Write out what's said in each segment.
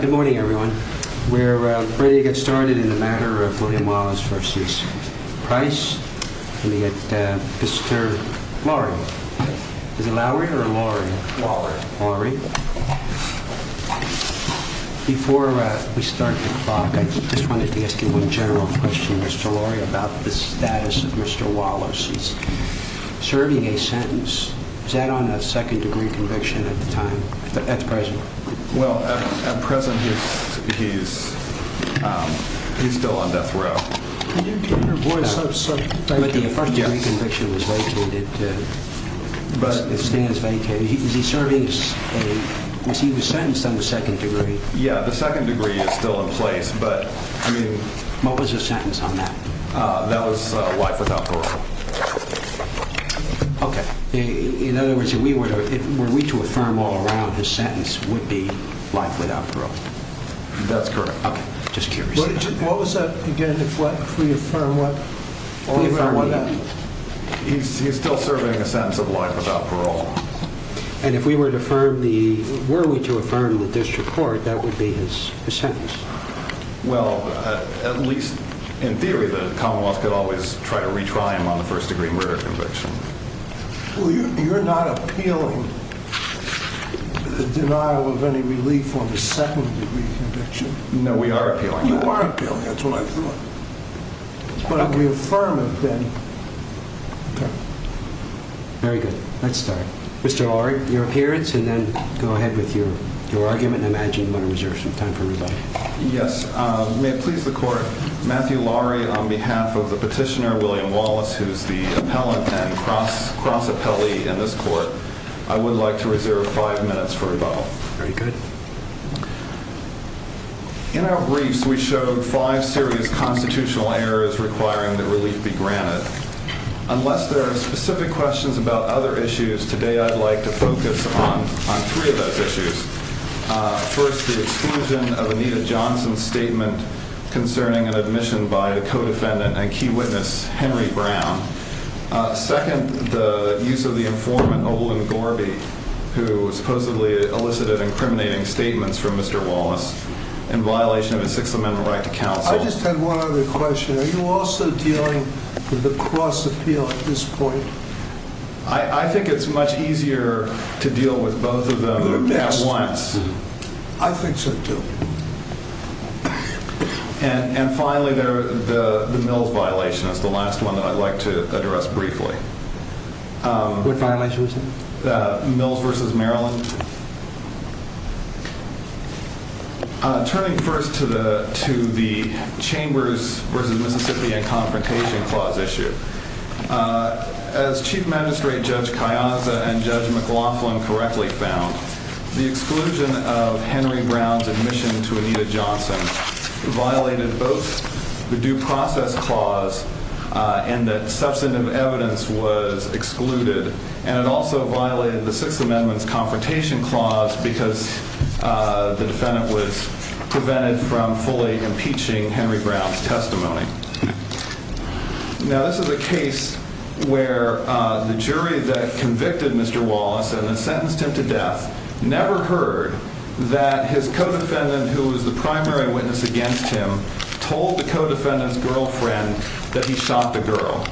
Good morning, everyone. We're ready to get started in the matter of William Wallace v. Price v. Mr. Lowry. Before we start the clock, I just wanted to ask you one general question, Mr. Lowry, about the status of Mr. Wallace. He's serving a sentence. Is that on a second-degree conviction at the time, at the present? Well, at present, he's still on death row. But the first-degree conviction was vacated. Is he serving a sentence on the second degree? Yeah, the second degree is still in place. What was his sentence on that? That was life without parole. Okay. In other words, were we to affirm all around, his sentence would be life without parole? That's correct. Okay. Just curious. What was that again? If we affirm what? He's still serving a sentence of life without parole. And if we were to affirm the, were we to affirm the district court, that would be his sentence? Well, at least in theory, the Commonwealth could always try to retry him on the first-degree murder conviction. Well, you're not appealing the denial of any relief on the second-degree conviction. No, we are appealing it. You are appealing it. That's what I thought. But if we affirm it, then... Okay. Very good. Let's start. Mr. Laurie, your appearance, and then go ahead with your argument. I imagine you want to reserve some time for rebuttal. Yes. May it please the Court, Matthew Laurie, on behalf of the petitioner, William Wallace, who's the appellant and cross-appellee in this Court, I would like to reserve five minutes for rebuttal. Very good. In our briefs, we showed five serious constitutional errors requiring that relief be granted. Unless there are specific questions about other issues today, I'd like to focus on three of those issues. First, the exclusion of Anita Johnson's statement concerning an admission by a co-defendant and key witness, Henry Brown. Second, the use of the informant, Oberlin Gorby, who supposedly elicited incriminating statements from Mr. Wallace in violation of his Sixth Amendment right to counsel. I just had one other question. Are you also dealing with the cross-appeal at this point? I think it's much easier to deal with both of them at once. I think so, too. And finally, the Mills violation is the last one that I'd like to address briefly. What violation, sir? Mills v. Maryland. Turning first to the Chambers v. Mississippi and Confrontation Clause issue, as Chief Magistrate Judge Kayanza and Judge McLaughlin correctly found, the exclusion of Henry Brown's admission to Anita Johnson violated both the Due Process Clause and that substantive evidence was excluded. And it also violated the Sixth Amendment's Confrontation Clause because the defendant was prevented from fully impeaching Henry Brown's testimony. Now, this is a case where the jury that convicted Mr. Wallace and then sentenced him to death never heard that his co-defendant, who was the primary witness against him, told the co-defendant's girlfriend that he shot the girl.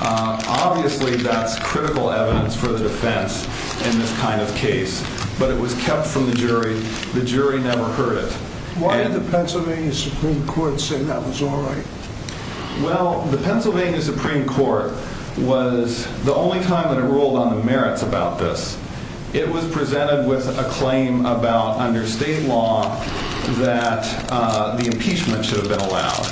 Obviously, that's critical evidence for the defense in this kind of case, but it was kept from the jury. The jury never heard it. Why did the Pennsylvania Supreme Court say that was all right? Well, the Pennsylvania Supreme Court was the only time that it ruled on the merits about this. It was presented with a claim about, under state law, that the impeachment should have been allowed.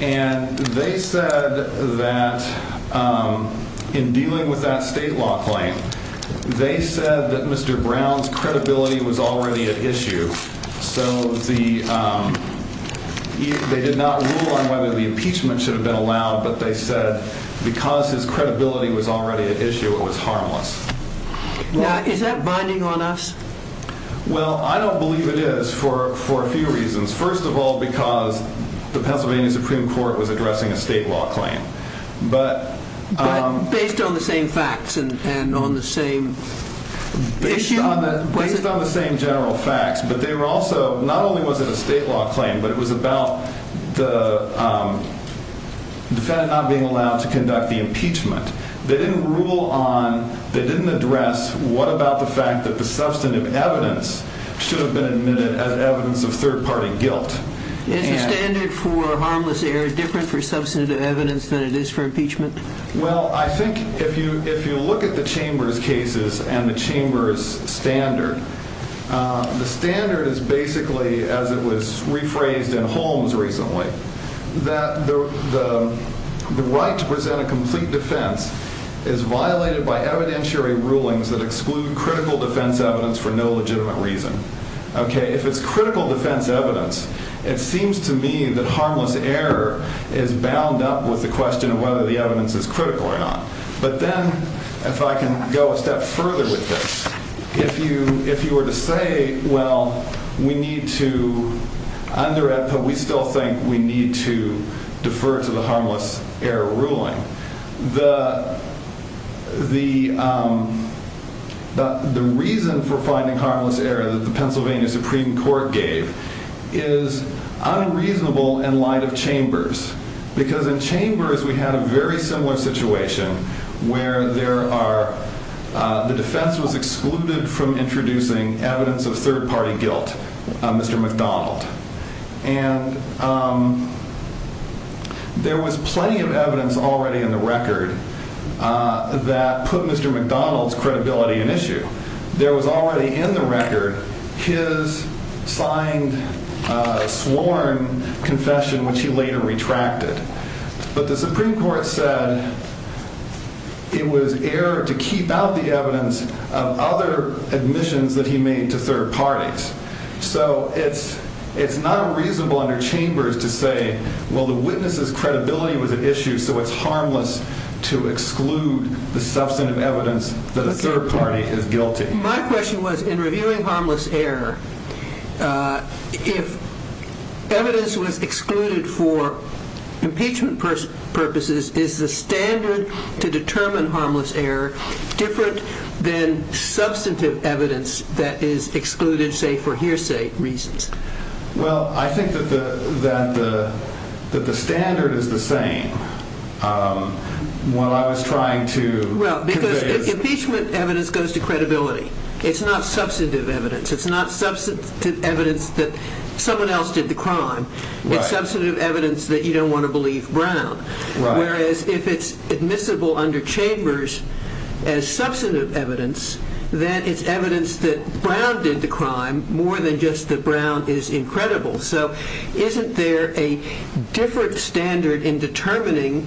And they said that in dealing with that state law claim, they said that Mr. Brown's credibility was already at issue. So they did not rule on whether the impeachment should have been allowed, but they said because his credibility was already at issue, it was harmless. Now, is that binding on us? Well, I don't believe it is for a few reasons. First of all, because the Pennsylvania Supreme Court was addressing a state law claim. But based on the same facts and on the same issue? Based on the same general facts. But they were also, not only was it a state law claim, but it was about the defendant not being allowed to conduct the impeachment. They didn't rule on, they didn't address, what about the fact that the substantive evidence should have been admitted as evidence of third-party guilt. Is the standard for harmless error different for substantive evidence than it is for impeachment? Well, I think if you look at the Chambers cases and the Chambers standard, the standard is basically, as it was rephrased in Holmes recently, that the right to present a complete defense is violated by evidentiary rulings that exclude critical defense evidence for no legitimate reason. Okay, if it's critical defense evidence, it seems to me that harmless error is bound up with the question of whether the evidence is critical or not. But then, if I can go a step further with this. If you were to say, well, we need to, under AEDPA, we still think we need to defer to the harmless error ruling. The reason for finding harmless error that the Pennsylvania Supreme Court gave is unreasonable in light of Chambers. Because in Chambers, we had a very similar situation where there are, the defense was excluded from introducing evidence of third-party guilt, Mr. McDonald. And there was plenty of evidence already in the record that put Mr. McDonald's credibility in issue. There was already in the record his signed, sworn confession, which he later retracted. But the Supreme Court said it was error to keep out the evidence of other admissions that he made to third parties. So it's not reasonable under Chambers to say, well, the witness's credibility was at issue, so it's harmless to exclude the substantive evidence that a third party is guilty. My question was, in reviewing harmless error, if evidence was excluded for impeachment purposes, is the standard to determine harmless error different than substantive evidence that is excluded, say, for hearsay reasons? Well, I think that the standard is the same. Well, impeachment evidence goes to credibility. It's not substantive evidence. It's not substantive evidence that someone else did the crime. It's substantive evidence that you don't want to believe Brown. Whereas if it's admissible under Chambers as substantive evidence, then it's evidence that Brown did the crime more than just that Brown is incredible. So isn't there a different standard in determining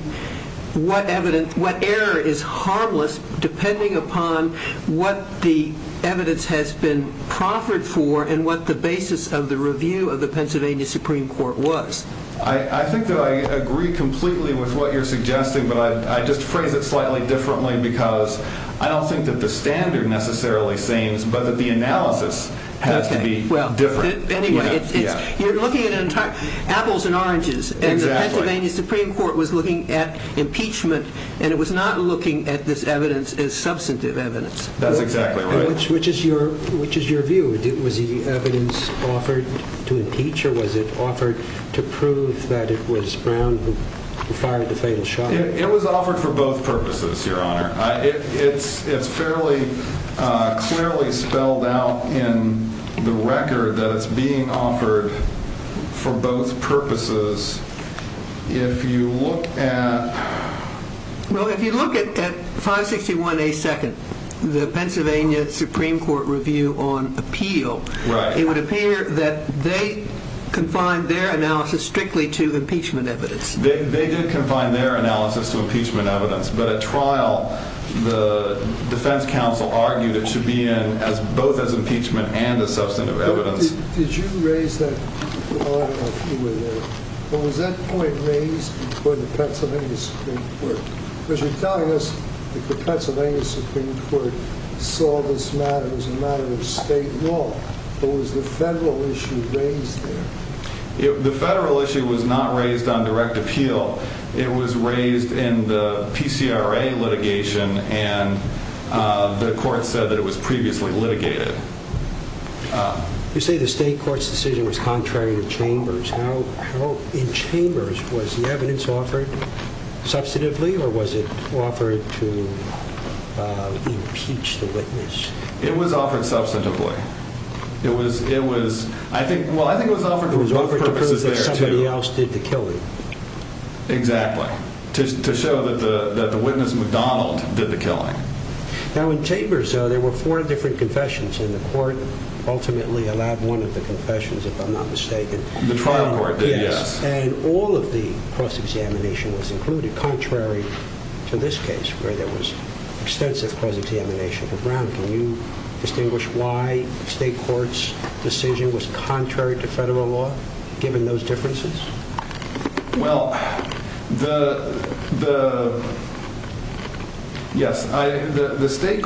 what error is harmless depending upon what the evidence has been proffered for and what the basis of the review of the Pennsylvania Supreme Court was? I think that I agree completely with what you're suggesting, but I just phrase it slightly differently because I don't think that the standard necessarily seems, but that the analysis has to be different. You're looking at apples and oranges, and the Pennsylvania Supreme Court was looking at impeachment, and it was not looking at this evidence as substantive evidence. That's exactly right. Which is your view? Was the evidence offered to impeach, or was it offered to prove that it was Brown who fired the fatal shot? It was offered for both purposes, Your Honor. It's fairly clearly spelled out in the record that it's being offered for both purposes. If you look at... Well, if you look at 561A2nd, the Pennsylvania Supreme Court Review on Appeal, it would appear that they confined their analysis strictly to impeachment evidence. They did confine their analysis to impeachment evidence, but at trial, the defense counsel argued it should be in both as impeachment and as substantive evidence. Did you raise that? I don't know if you were there, but was that point raised before the Pennsylvania Supreme Court? Because you're telling us that the Pennsylvania Supreme Court saw this matter as a matter of state law, but was the federal issue raised there? The federal issue was not raised on direct appeal. It was raised in the PCRA litigation, and the court said that it was previously litigated. You say the state court's decision was contrary to Chambers. In Chambers, was the evidence offered substantively, or was it offered to impeach the witness? It was offered substantively. I think it was offered to prove that somebody else did the killing. Exactly, to show that the witness, McDonald, did the killing. Now, in Chambers, there were four different confessions, and the court ultimately allowed one of the confessions, if I'm not mistaken. The trial court did, yes. And all of the cross-examination was included, contrary to this case, where there was extensive cross-examination. Mr. Brown, can you distinguish why the state court's decision was contrary to federal law, given those differences? Well, the state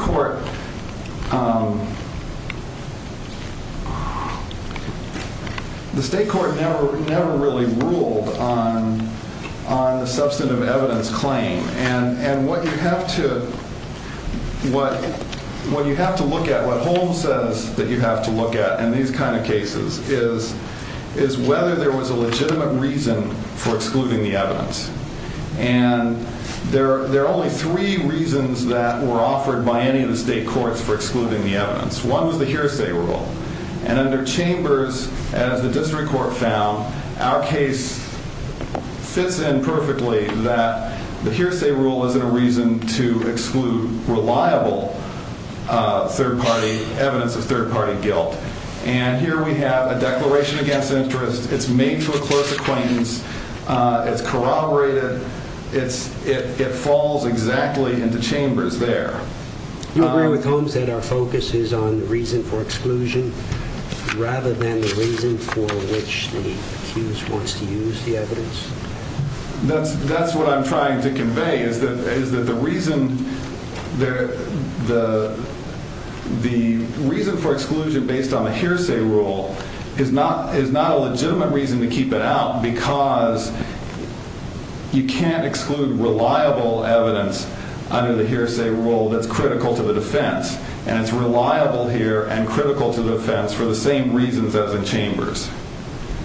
court never really ruled on the substantive evidence claim. And what you have to look at, what Holmes says that you have to look at in these kind of cases, is whether there was a legitimate reason for excluding the evidence. And there are only three reasons that were offered by any of the state courts for excluding the evidence. One was the hearsay rule. And under Chambers, as the district court found, our case fits in perfectly that the hearsay rule isn't a reason to exclude reliable third-party evidence of third-party guilt. And here we have a declaration against interest. It's made to a clerk's acquaintance. It's corroborated. It falls exactly into Chambers there. Do you agree with Holmes that our focus is on the reason for exclusion, rather than the reason for which the accused wants to use the evidence? That's what I'm trying to convey, is that the reason for exclusion based on the hearsay rule is not a legitimate reason to keep it out, because you can't exclude reliable evidence under the hearsay rule that's critical to the defense. And it's reliable here and critical to the defense for the same reasons as in Chambers.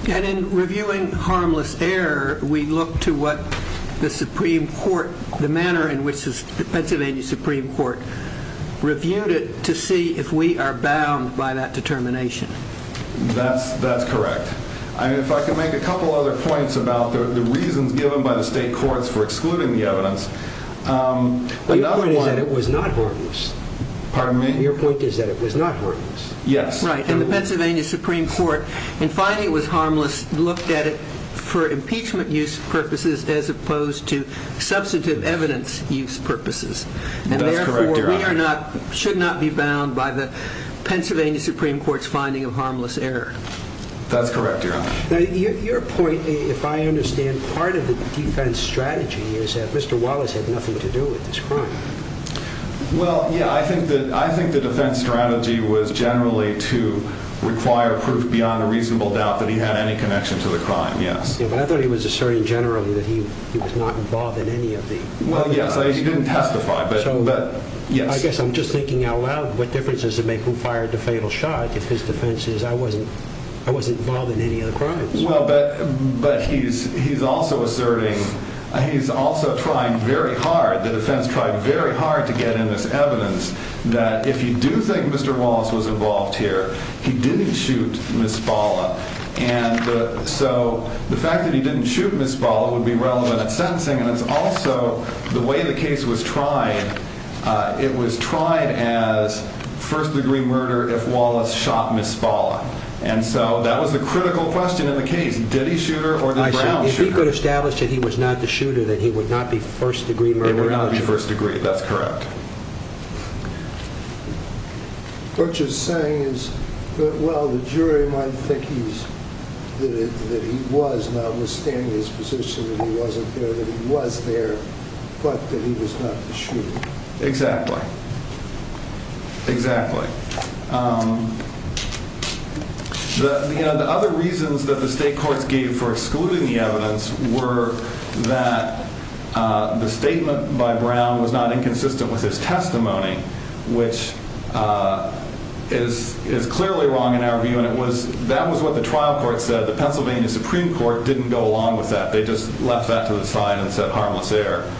And in reviewing harmless error, we look to what the Supreme Court, the manner in which the Pennsylvania Supreme Court reviewed it, to see if we are bound by that determination. That's correct. If I could make a couple other points about the reasons given by the state courts for excluding the evidence. Your point is that it was not harmless. Pardon me? Your point is that it was not harmless. Yes. Right. And the Pennsylvania Supreme Court, in finding it was harmless, looked at it for impeachment use purposes as opposed to substantive evidence use purposes. That's correct, Your Honor. And therefore, we should not be bound by the Pennsylvania Supreme Court's finding of harmless error. That's correct, Your Honor. Now, your point, if I understand, part of the defense strategy is that Mr. Wallace had nothing to do with this crime. Well, yeah. I think the defense strategy was generally to require proof beyond a reasonable doubt that he had any connection to the crime. Yes. But I thought he was asserting generally that he was not involved in any of the other crimes. Well, yes. He didn't testify. So I guess I'm just thinking out loud what difference does it make who fired the fatal shot if his defense is I wasn't involved in any other crimes. Well, but he's also asserting, he's also trying very hard, the defense tried very hard to get in this evidence, that if you do think Mr. Wallace was involved here, he didn't shoot Ms. Spalla. And so the fact that he didn't shoot Ms. Spalla would be relevant in sentencing, and it's also the way the case was tried, it was tried as first-degree murder if Wallace shot Ms. Spalla. And so that was the critical question in the case. Did he shoot her or did Brown shoot her? If he could establish that he was not the shooter, then he would not be first-degree murder. He would not be first-degree. That's correct. What you're saying is, well, the jury might think that he was notwithstanding his position that he wasn't there, that he was there, but that he was not the shooter. Exactly. Exactly. The other reasons that the state courts gave for excluding the evidence were that the statement by Brown was not inconsistent with his testimony, which is clearly wrong in our view, and that was what the trial court said. The Pennsylvania Supreme Court didn't go along with that. They just left that to the side and said harmless error.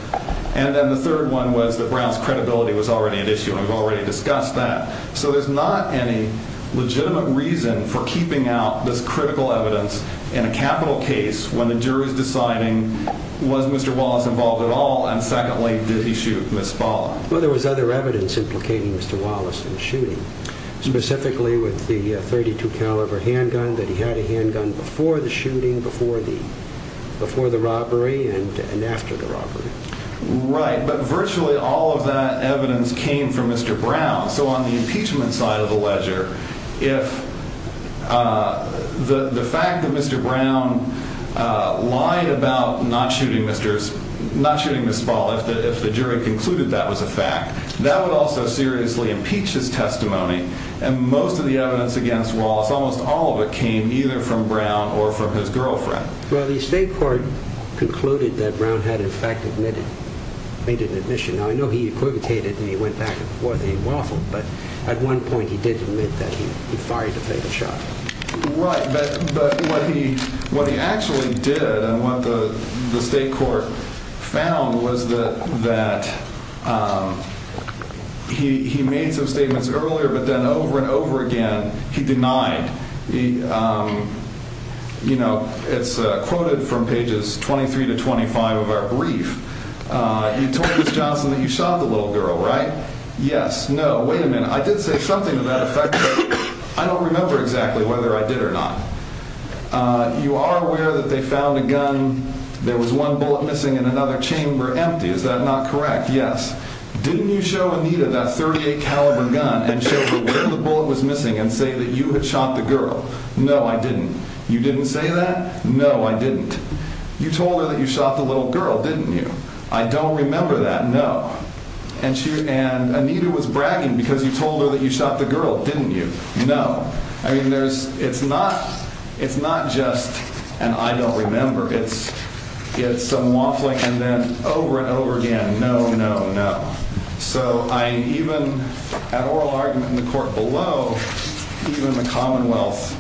And then the third one was that Brown's credibility was already at issue, and we've already discussed that. So there's not any legitimate reason for keeping out this critical evidence in a capital case when the jury's deciding, was Mr. Wallace involved at all, and secondly, did he shoot Ms. Spalla? Well, there was other evidence implicating Mr. Wallace in the shooting, specifically with the .32-caliber handgun, that he had a handgun before the shooting, before the robbery, and after the robbery. Right, but virtually all of that evidence came from Mr. Brown. So on the impeachment side of the ledger, if the fact that Mr. Brown lied about not shooting Ms. Spalla, if the jury concluded that was a fact, that would also seriously impeach his testimony, and most of the evidence against Wallace, almost all of it, came either from Brown or from his girlfriend. Well, the state court concluded that Brown had in fact made an admission. Now, I know he equivocated and he went back and forth and he waffled, but at one point he did admit that he fired the fatal shot. Right, but what he actually did and what the state court found was that he made some statements earlier, but then over and over again, he denied. You know, it's quoted from pages 23 to 25 of our brief. You told Ms. Johnson that you shot the little girl, right? Yes. No. Wait a minute. I did say something to that effect, but I don't remember exactly whether I did or not. You are aware that they found a gun, there was one bullet missing in another chamber, empty, is that not correct? Yes. Didn't you show Anita that .38 caliber gun and show her where the bullet was missing and say that you had shot the girl? No, I didn't. You didn't say that? No, I didn't. You told her that you shot the little girl, didn't you? I don't remember that, no. And Anita was bragging because you told her that you shot the girl, didn't you? No. I mean, it's not just an I don't remember, it's some waffling and then over and over again, no, no, no. So I even, at oral argument in the court below, even the Commonwealth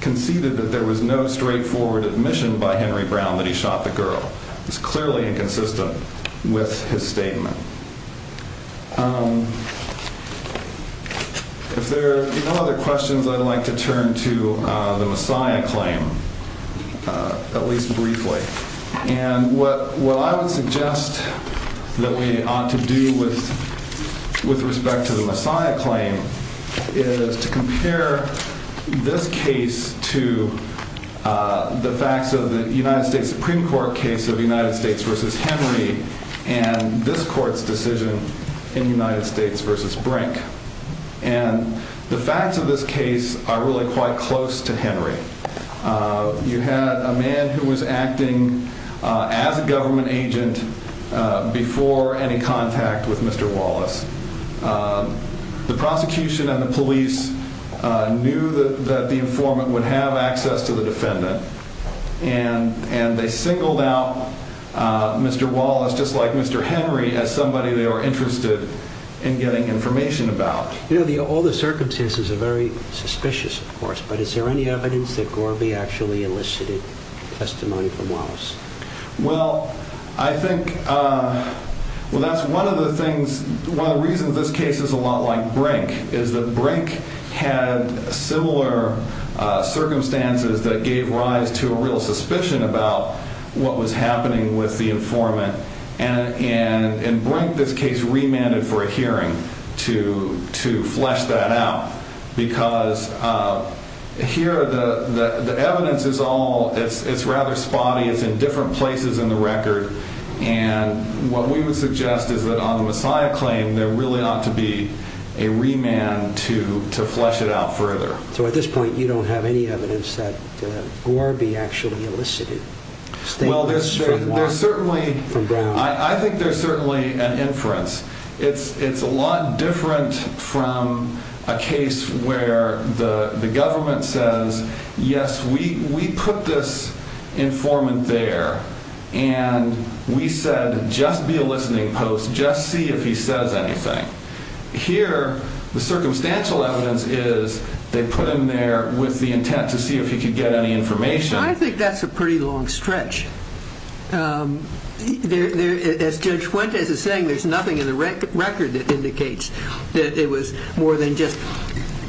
conceded that there was no straightforward admission by Henry Brown that he shot the girl. It's clearly inconsistent with his statement. If there are no other questions, I'd like to turn to the Messiah claim, at least briefly. And what I would suggest that we ought to do with respect to the Messiah claim is to compare this case to the facts of the United States Supreme Court case of United States v. Henry and this court's decision in United States v. Brink. And the facts of this case are really quite close to Henry. You had a man who was acting as a government agent before any contact with Mr. Wallace. The prosecution and the police knew that the informant would have access to the defendant. And they singled out Mr. Wallace, just like Mr. Henry, as somebody they were interested in getting information about. You know, all the circumstances are very suspicious, of course, but is there any evidence that Gorby actually elicited testimony from Wallace? Well, I think that's one of the things, one of the reasons this case is a lot like Brink is that Brink had similar circumstances that gave rise to a real suspicion about what was happening with the informant. And Brink, this case, remanded for a hearing to flesh that out because here the evidence is all, it's rather spotty, it's in different places in the record. And what we would suggest is that on the Messiah claim, there really ought to be a remand to flesh it out further. So at this point, you don't have any evidence that Gorby actually elicited statements from Wallace? I think there's certainly an inference. It's a lot different from a case where the government says, yes, we put this informant there and we said, just be a listening post, just see if he says anything. Here, the circumstantial evidence is they put him there with the intent to see if he could get any information. I think that's a pretty long stretch. As Judge Fuentes is saying, there's nothing in the record that indicates that it was more than just,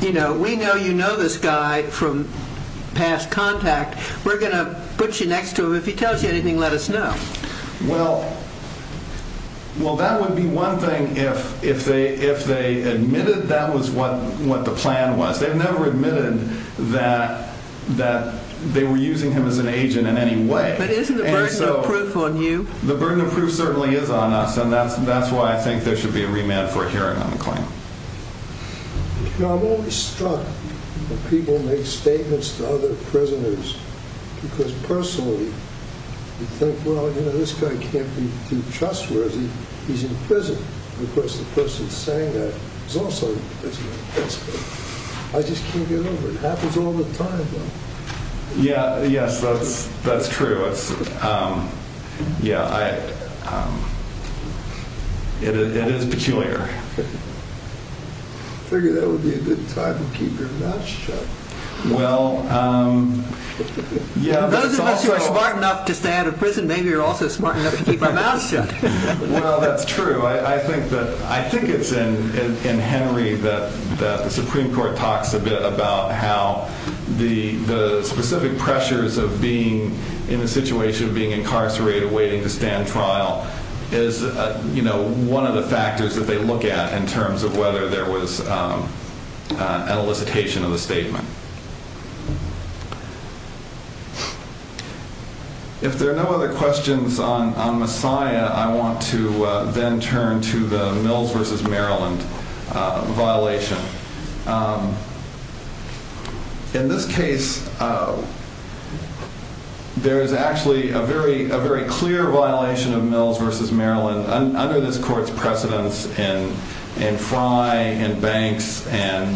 you know, we know you know this guy from past contact. We're going to put you next to him. If he tells you anything, let us know. Well, that would be one thing if they admitted that was what the plan was. They've never admitted that they were using him as an agent in any way. But isn't the burden of proof on you? The burden of proof certainly is on us. And that's why I think there should be a remand for a hearing on the claim. I'm always struck when people make statements to other prisoners because personally, you think, well, you know, this guy can't be too trustworthy. He's in prison. Of course, the person saying that is also in prison. I just can't get over it. It happens all the time. Yeah. Yes, that's that's true. Yeah, it is peculiar. I figured that would be a good time to keep your mouth shut. Well, yeah. Those of us who are smart enough to stay out of prison, maybe you're also smart enough to keep our mouths shut. Well, that's true. I think that I think it's in Henry that the Supreme Court talks a bit about how the specific pressures of being in a situation of being incarcerated, waiting to stand trial is, you know, one of the factors that they look at in terms of whether there was an elicitation of the statement. If there are no other questions on Messiah, I want to then turn to the Mills versus Maryland violation. In this case, there is actually a very, a very clear violation of Mills versus Maryland under this court's precedence in Frye and Banks and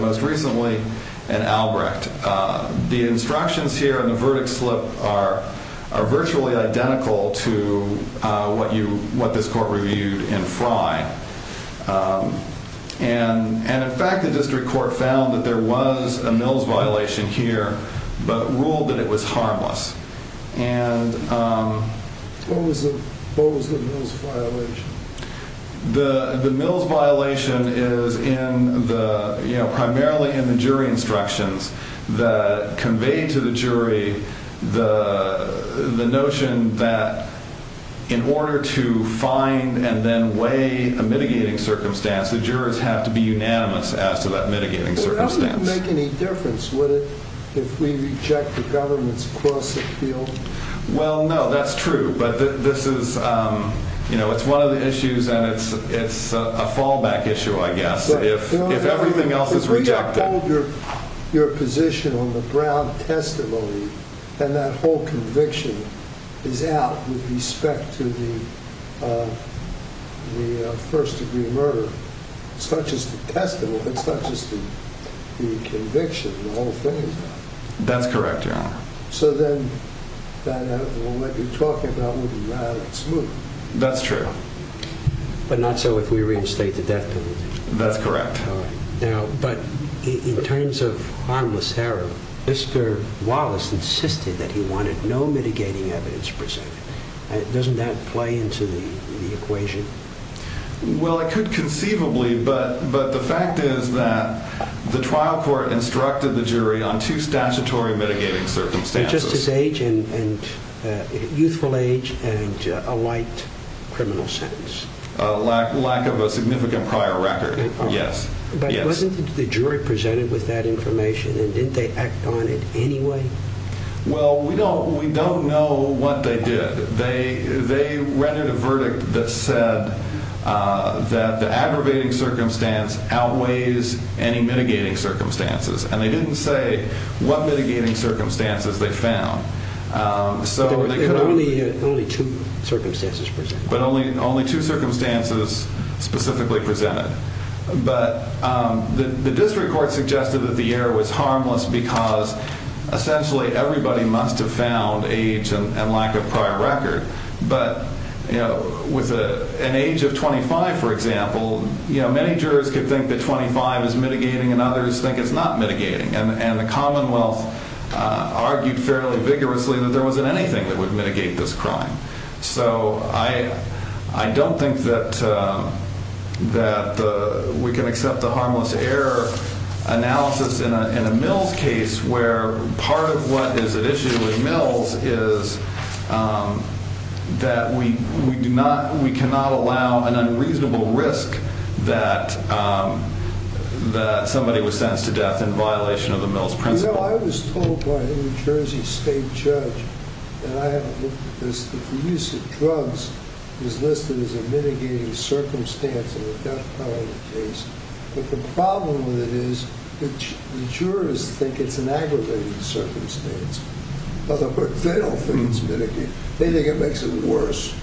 most recently in Albrecht. The instructions here on the verdict slip are are virtually identical to what you what this court reviewed in Frye. And and in fact, the district court found that there was a Mills violation here, but ruled that it was harmless. And what was the what was the most violation? The the Mills violation is in the, you know, primarily in the jury instructions that convey to the jury the the notion that in order to find and then weigh a mitigating circumstance, the jurors have to be unanimous as to that mitigating circumstance. It doesn't make any difference if we reject the government's cross appeal. Well, no, that's true. But this is, you know, it's one of the issues and it's it's a fallback issue, I guess. If if everything else is rejected, your position on the ground testimony and that whole conviction is out with respect to the first degree murder, such as the testimony, such as the conviction. That's correct. So then. That's true. But not so if we reinstate the death penalty. That's correct. Now, but in terms of harmless error, Mr. Wallace insisted that he wanted no mitigating evidence presented. Doesn't that play into the equation? Well, I could conceivably. But but the fact is that the trial court instructed the jury on two statutory mitigating circumstances. Just his age and youthful age and a light criminal sentence. A lack of a significant prior record. Yes. But wasn't the jury presented with that information and didn't they act on it anyway? Well, we don't we don't know what they did. They they rendered a verdict that said that the aggravating circumstance outweighs any mitigating circumstances. And they didn't say what mitigating circumstances they found. So only only two circumstances, but only only two circumstances specifically presented. But the district court suggested that the error was harmless because essentially everybody must have found age and lack of prior record. But with an age of 25, for example, many jurors could think that 25 is mitigating and others think it's not mitigating. And the Commonwealth argued fairly vigorously that there wasn't anything that would mitigate this crime. So I I don't think that that we can accept the harmless error analysis in a mills case where part of what is at issue with mills is that we do not we cannot allow an unreasonable risk that that somebody was sentenced to death in violation of the mills principle. You know, I was told by a New Jersey state judge that the use of drugs is listed as a mitigating circumstance in the death penalty case. But the problem with it is the jurors think it's an aggravating circumstance. But they don't think it's mitigating. They think it makes it worse.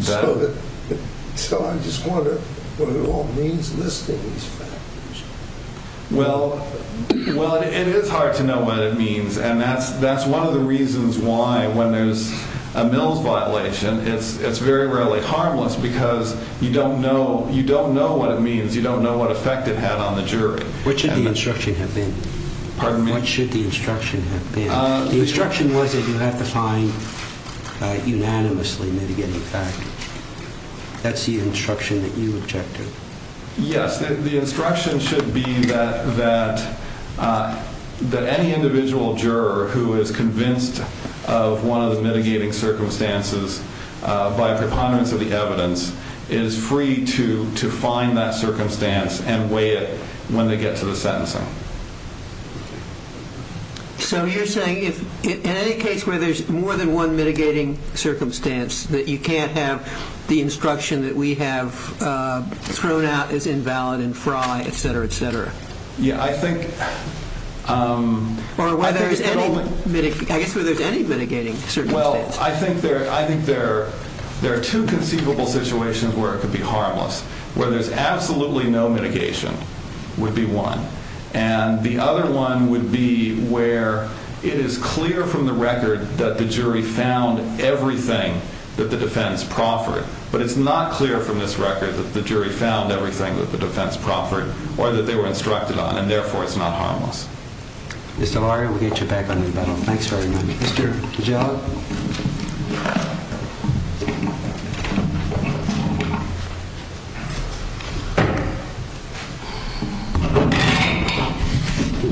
So I just wonder what it all means listing these factors. Well, well, it is hard to know what it means. And that's that's one of the reasons why when there's a mills violation, it's it's very rarely harmless because you don't know you don't know what it means. You don't know what effect it had on the jury. Which of the instruction have been pardon me? What should the instruction have been? The instruction was that you have to find unanimously mitigating factors. That's the instruction that you object to. Yes, the instruction should be that that that any individual juror who is convinced of one of the mitigating circumstances by a preponderance of the evidence is free to to find that circumstance and weigh it when they get to the sentencing. So you're saying if in any case where there's more than one mitigating circumstance that you can't have the instruction that we have thrown out is invalid and fry, et cetera, et cetera. Yeah, I think. Or whether there's any I guess whether there's any mitigating. Well, I think there I think there there are two conceivable situations where it could be harmless, where there's absolutely no mitigation would be one. And the other one would be where it is clear from the record that the jury found everything that the defense proffered. But it's not clear from this record that the jury found everything that the defense proffered or that they were instructed on. And therefore, it's not harmless. Mr. Larry, we'll get you back on. Thanks very much, Mr. John.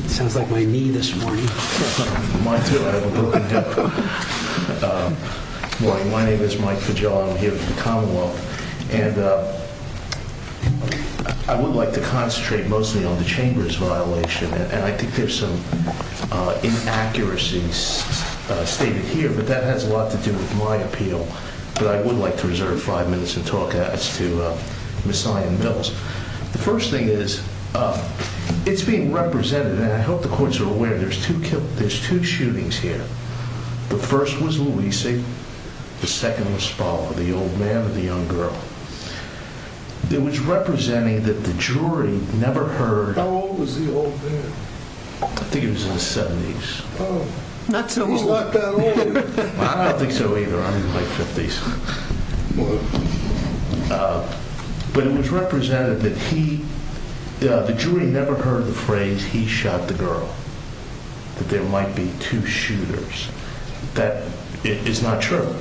Sounds like my knee this morning. My name is Mike. I would like to concentrate mostly on the chambers violation. And I think there's some inaccuracies stated here. But that has a lot to do with my appeal. But I would like to reserve five minutes and talk to Mission Mills. The first thing is it's being represented. And I hope the courts are aware there's two. There's two shootings here. The first was Luisa. The second was followed. The old man and the young girl. It was representing that the jury never heard. How old was the old man? I think it was in the 70s. Not so much like that. I don't think so either. I mean, like 50s. But it was represented that he the jury never heard the phrase. He shot the girl. That there might be two shooters. That is not true.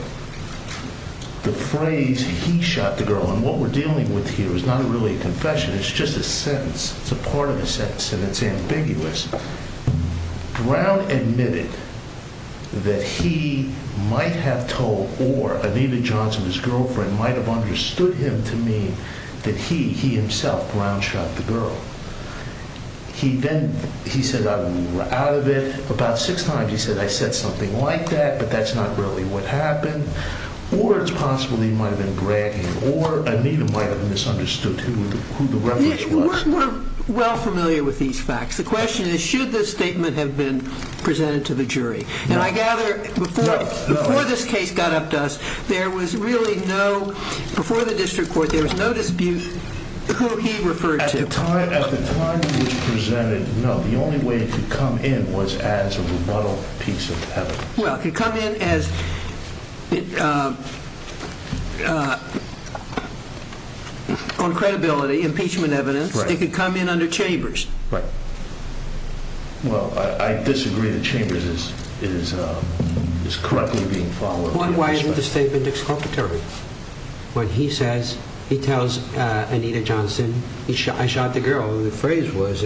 The phrase he shot the girl and what we're dealing with here is not really a confession. It's just a sentence. And it's ambiguous. Brown admitted that he might have told or Anita Johnson, his girlfriend, might have understood him to mean that he, he himself, Brown shot the girl. He then, he said, I'm out of it. About six times he said, I said something like that. But that's not really what happened. Or it's possible he might have been bragging. Or Anita might have misunderstood who the reference was. We're well familiar with these facts. The question is, should this statement have been presented to the jury? And I gather before this case got up to us, there was really no, before the district court there was no dispute who he referred to. At the time it was presented, no. The only way it could come in was as a rebuttal piece of evidence. Well, it could come in as, on credibility, impeachment evidence. It could come in under Chambers. Right. Well, I disagree that Chambers is correctly being followed. Why isn't the statement exculpatory? When he says, he tells Anita Johnson, I shot the girl. The phrase was,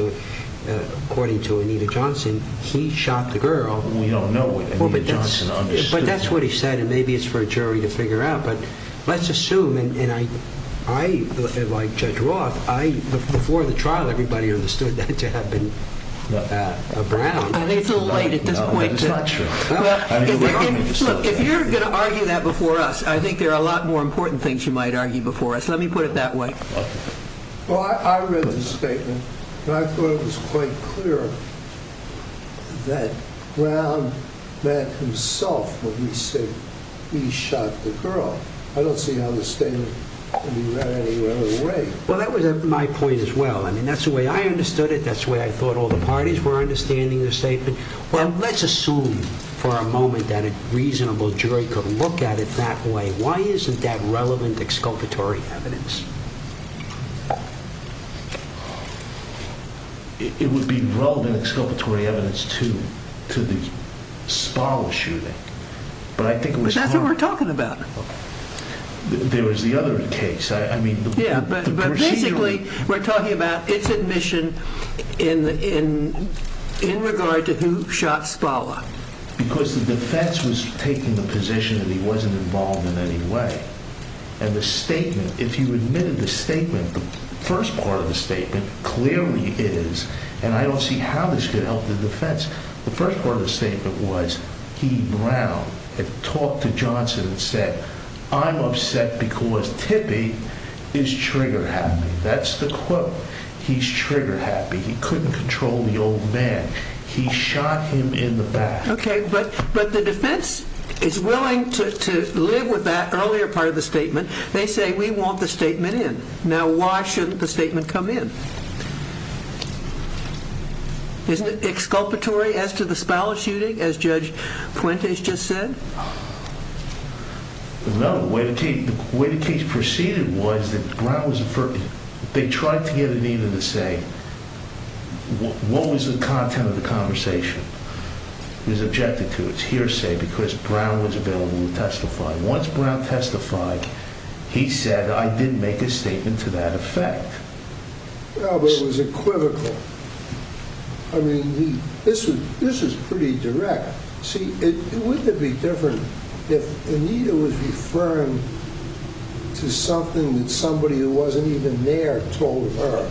according to Anita Johnson, he shot the girl. We don't know what Anita Johnson understood. But that's what he said. And maybe it's for a jury to figure out. But let's assume, and I, like Judge Roth, before the trial, everybody understood that to have been Brown. I think it's a little late at this point. No, that's not true. Look, if you're going to argue that before us, I think there are a lot more important things you might argue before us. Let me put it that way. Well, I read the statement, and I thought it was quite clear that Brown met himself when he said, he shot the girl. I don't see how the statement can be read any other way. Well, that was my point as well. I mean, that's the way I understood it. That's the way I thought all the parties were understanding the statement. Well, let's assume for a moment that a reasonable jury could look at it that way. Why isn't that relevant exculpatory evidence? It would be relevant exculpatory evidence, too, to the Spala shooting. But I think it was hard. But that's what we're talking about. There was the other case. Yeah, but basically we're talking about its admission in regard to who shot Spala. Because the defense was taking the position that he wasn't involved in any way. And the statement, if you admitted the statement, the first part of the statement, clearly it is, and I don't see how this could help the defense. The first part of the statement was he, Brown, had talked to Johnson and said, I'm upset because Tippie is trigger happy. That's the quote. He's trigger happy. He couldn't control the old man. He shot him in the back. Okay, but the defense is willing to live with that earlier part of the statement. They say, we want the statement in. Now, why shouldn't the statement come in? Isn't it exculpatory as to the Spala shooting, as Judge Puentes just said? No, the way the case proceeded was that Brown was, they tried to get Anita to say, what was the content of the conversation? It was objected to. It's hearsay because Brown was available to testify. Once Brown testified, he said, I didn't make a statement to that effect. No, but it was equivocal. I mean, this was pretty direct. See, wouldn't it be different if Anita was referring to something that somebody who wasn't even there told her?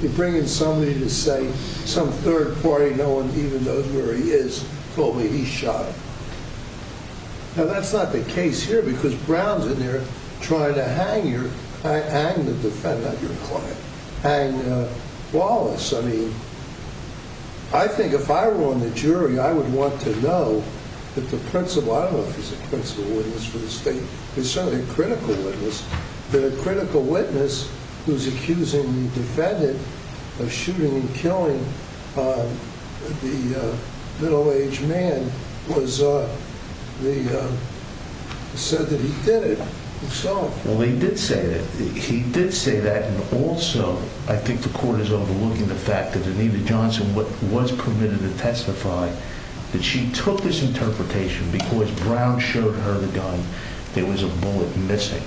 You bring in somebody to say some third party, no one even knows where he is, told me he shot her. Now, that's not the case here because Brown's in there trying to hang your, hang the defendant, not your client, hang Wallace. I mean, I think if I were on the jury, I would want to know that the principal, I don't know if he's a principal witness for the state, he's certainly a critical witness, but a critical witness who's accusing the defendant of shooting and killing the middle-aged man was, said that he did it, so. Well, he did say that. He did say that, and also, I think the court is overlooking the fact that Anita Johnson was permitted to testify that she took this interpretation because Brown showed her the gun. There was a bullet missing.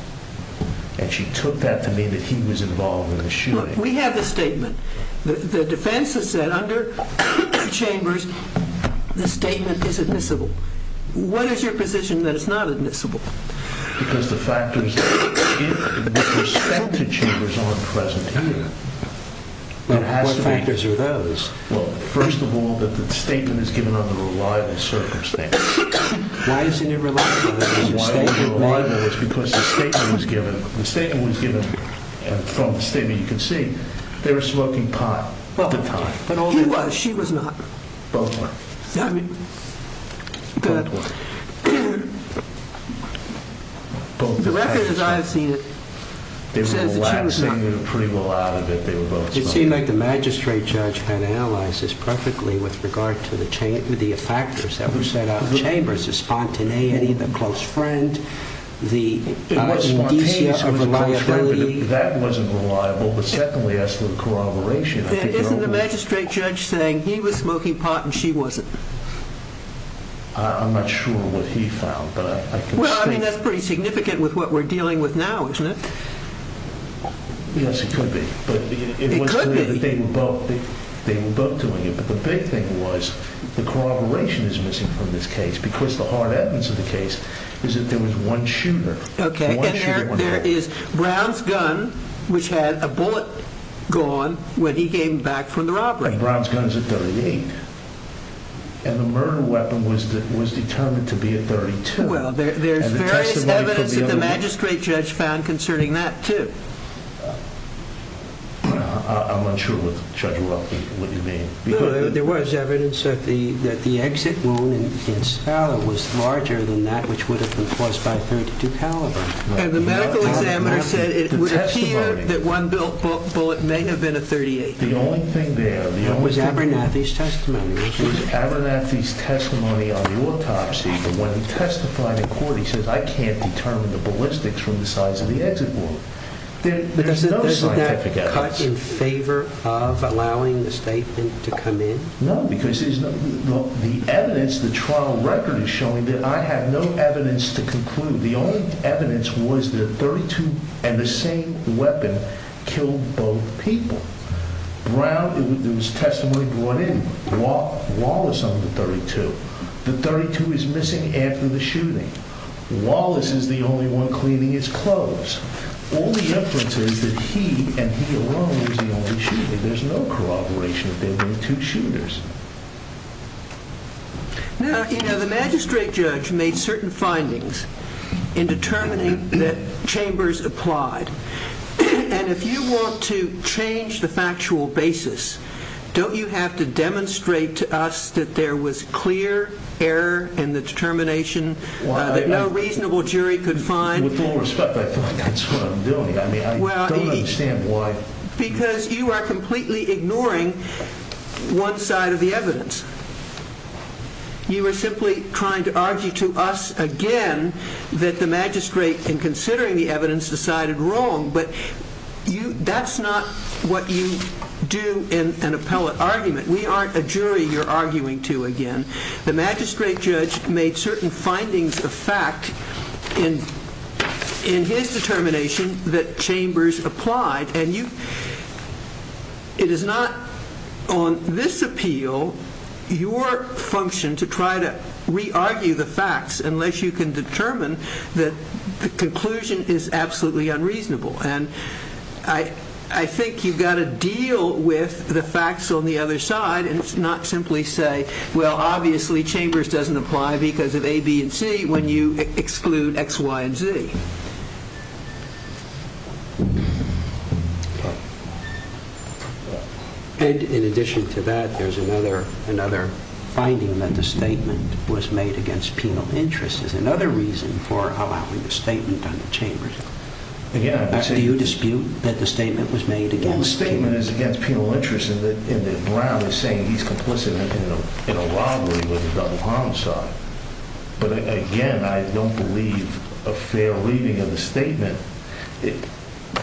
And she took that to mean that he was involved in the shooting. Look, we have the statement. The defense has said under Chambers, the statement is admissible. What is your position that it's not admissible? Because the factors with respect to Chambers aren't present here. What factors are those? Well, first of all, that the statement is given under reliable circumstances. Why isn't it reliable? Why isn't it reliable is because the statement was given. The statement was given from the statement you can see. They were smoking pot at the time. He was. She was not. Both were. Both were. The record, as I've seen it, says that she was not. They were relaxing pretty well out of it. They were both smoking. It seemed like the magistrate judge had analyzed this perfectly with regard to the factors that were set out in Chambers. The spontaneity, the close friend, the indecency of reliability. That wasn't reliable. But secondly, as to the corroboration. Isn't the magistrate judge saying he was smoking pot and she wasn't? I'm not sure what he found. Well, I mean, that's pretty significant with what we're dealing with now, isn't it? Yes, it could be. It could be. But it was clear that they were both doing it. But the big thing was the corroboration is missing from this case. Because the hard evidence of the case is that there was one shooter. OK. There is Brown's gun, which had a bullet gone when he came back from the robbery. Brown's gun is a .38. And the murder weapon was determined to be a .32. Well, there's various evidence that the magistrate judge found concerning that, too. I'm unsure what Judge Waroff would mean. Well, there was evidence that the exit wound in Scala was larger than that, which would have been caused by a .32 caliber. And the medical examiner said it would appear that one bullet may have been a .38. The only thing there was Abernathy's testimony. It was Abernathy's testimony on the autopsy. But when he testified in court, he said, I can't determine the ballistics from the size of the exit wound. But isn't that cut in favor of allowing the statement to come in? No, because the evidence, the trial record is showing that I have no evidence to conclude. The only evidence was the .32 and the same weapon killed both people. Brown, there was testimony brought in. Wallace on the .32. The .32 is missing after the shooting. Wallace is the only one cleaning his clothes. All the evidence is that he and he alone was the only shooter. There's no corroboration that there were two shooters. Now, you know, the magistrate judge made certain findings in determining that Chambers applied. And if you want to change the factual basis, don't you have to demonstrate to us that there was clear error in the determination, that no reasonable jury could find? With all respect, I feel like that's what I'm doing. I mean, I don't understand why. Because you are completely ignoring one side of the evidence. You are simply trying to argue to us again that the magistrate, in considering the evidence, decided wrong. But that's not what you do in an appellate argument. We aren't a jury you're arguing to again. The magistrate judge made certain findings of fact in his determination that Chambers applied. And it is not on this appeal, your function, to try to re-argue the facts unless you can determine that the conclusion is absolutely unreasonable. And I think you've got to deal with the facts on the other side and not simply say, well, obviously, Chambers doesn't apply because of A, B, and C when you exclude X, Y, and Z. And in addition to that, there's another finding that the statement was made against penal interest as another reason for allowing the statement on Chambers. Do you dispute that the statement was made against penal interest? Well, the statement is against penal interest in that Brown is saying he's complicit in a robbery with a double homicide. But again, I don't believe a fair reading of the statement.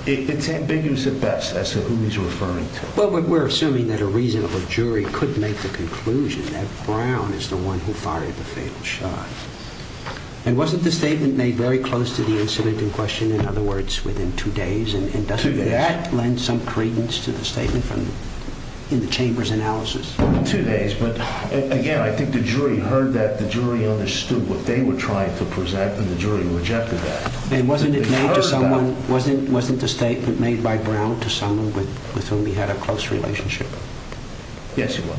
It's ambiguous at best as to who he's referring to. Well, we're assuming that a reasonable jury could make the conclusion that Brown is the one who fired the fatal shot. And wasn't the statement made very close to the incident in question, in other words, within two days? And doesn't that lend some credence to the statement in the Chambers analysis? Within two days, but again, I think the jury heard that, the jury understood what they were trying to present, and the jury rejected that. And wasn't the statement made by Brown to someone with whom he had a close relationship? Yes, he was.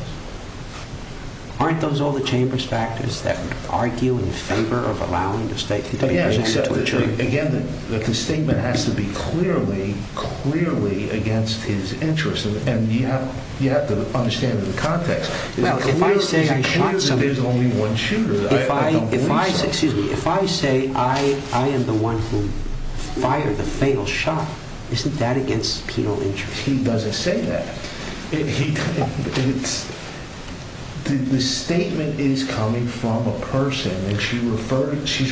Aren't those all the Chambers factors that would argue in favor of allowing the statement to be made to a jury? Again, the statement has to be clearly, clearly against his interest. And you have to understand the context. Well, if I say I shot somebody. It's clear that there's only one shooter. If I say I am the one who fired the fatal shot, isn't that against penal interest? He doesn't say that. The statement is coming from a person, and she's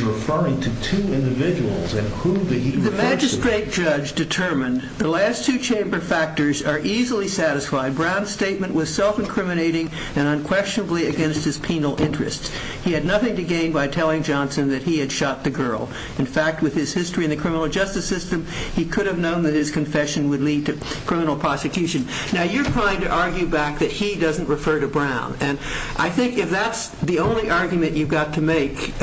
referring to two individuals. The magistrate judge determined the last two Chamber factors are easily satisfied. Brown's statement was self-incriminating and unquestionably against his penal interest. He had nothing to gain by telling Johnson that he had shot the girl. In fact, with his history in the criminal justice system, he could have known that his confession would lead to criminal prosecution. Now, you're trying to argue back that he doesn't refer to Brown, and I think if that's the only argument you've got to make,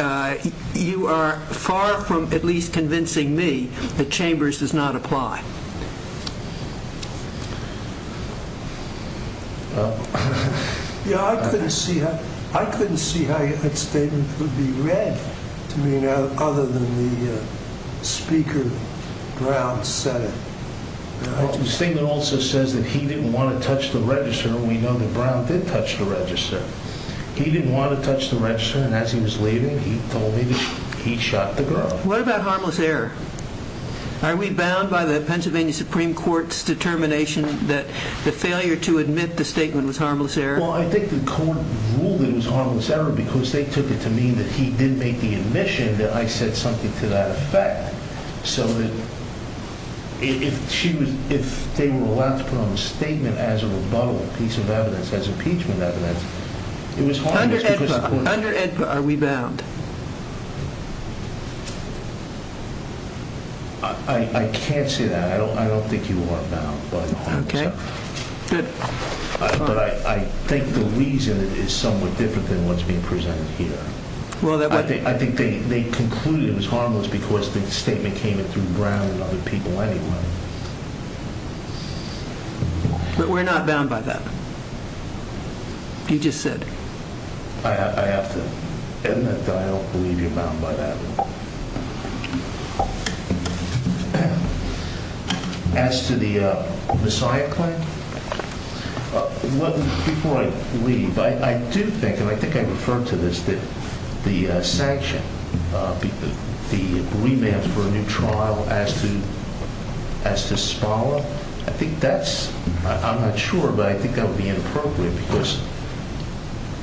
you are far from at least convincing me that Chambers does not apply. Yeah, I couldn't see how that statement would be read, other than the speaker Brown said it. The statement also says that he didn't want to touch the register, and we know that Brown did touch the register. He didn't want to touch the register, and as he was leaving, he told me that he shot the girl. What about harmless error? Are we bound by the Pennsylvania Supreme Court's determination that the failure to admit the statement was harmless error? Well, I think the court ruled it was harmless error because they took it to mean that he didn't make the admission that I said something to that effect. So, if they were allowed to put on a statement as a rebuttal piece of evidence, as impeachment evidence, it was harmless. Under AEDPA, are we bound? I can't say that. I don't think you are bound by the harmless error. Okay. Good. But I think the reason is somewhat different than what's being presented here. I think they concluded it was harmless because the statement came in through Brown and other people anyway. But we're not bound by that. You just said. I have to admit that I don't believe you're bound by that. As to the messiah claim, before I leave, I do think, and I think I referred to this, that the sanction, the remand for a new trial as to Spala, I think that's, I'm not sure, but I think that would be inappropriate because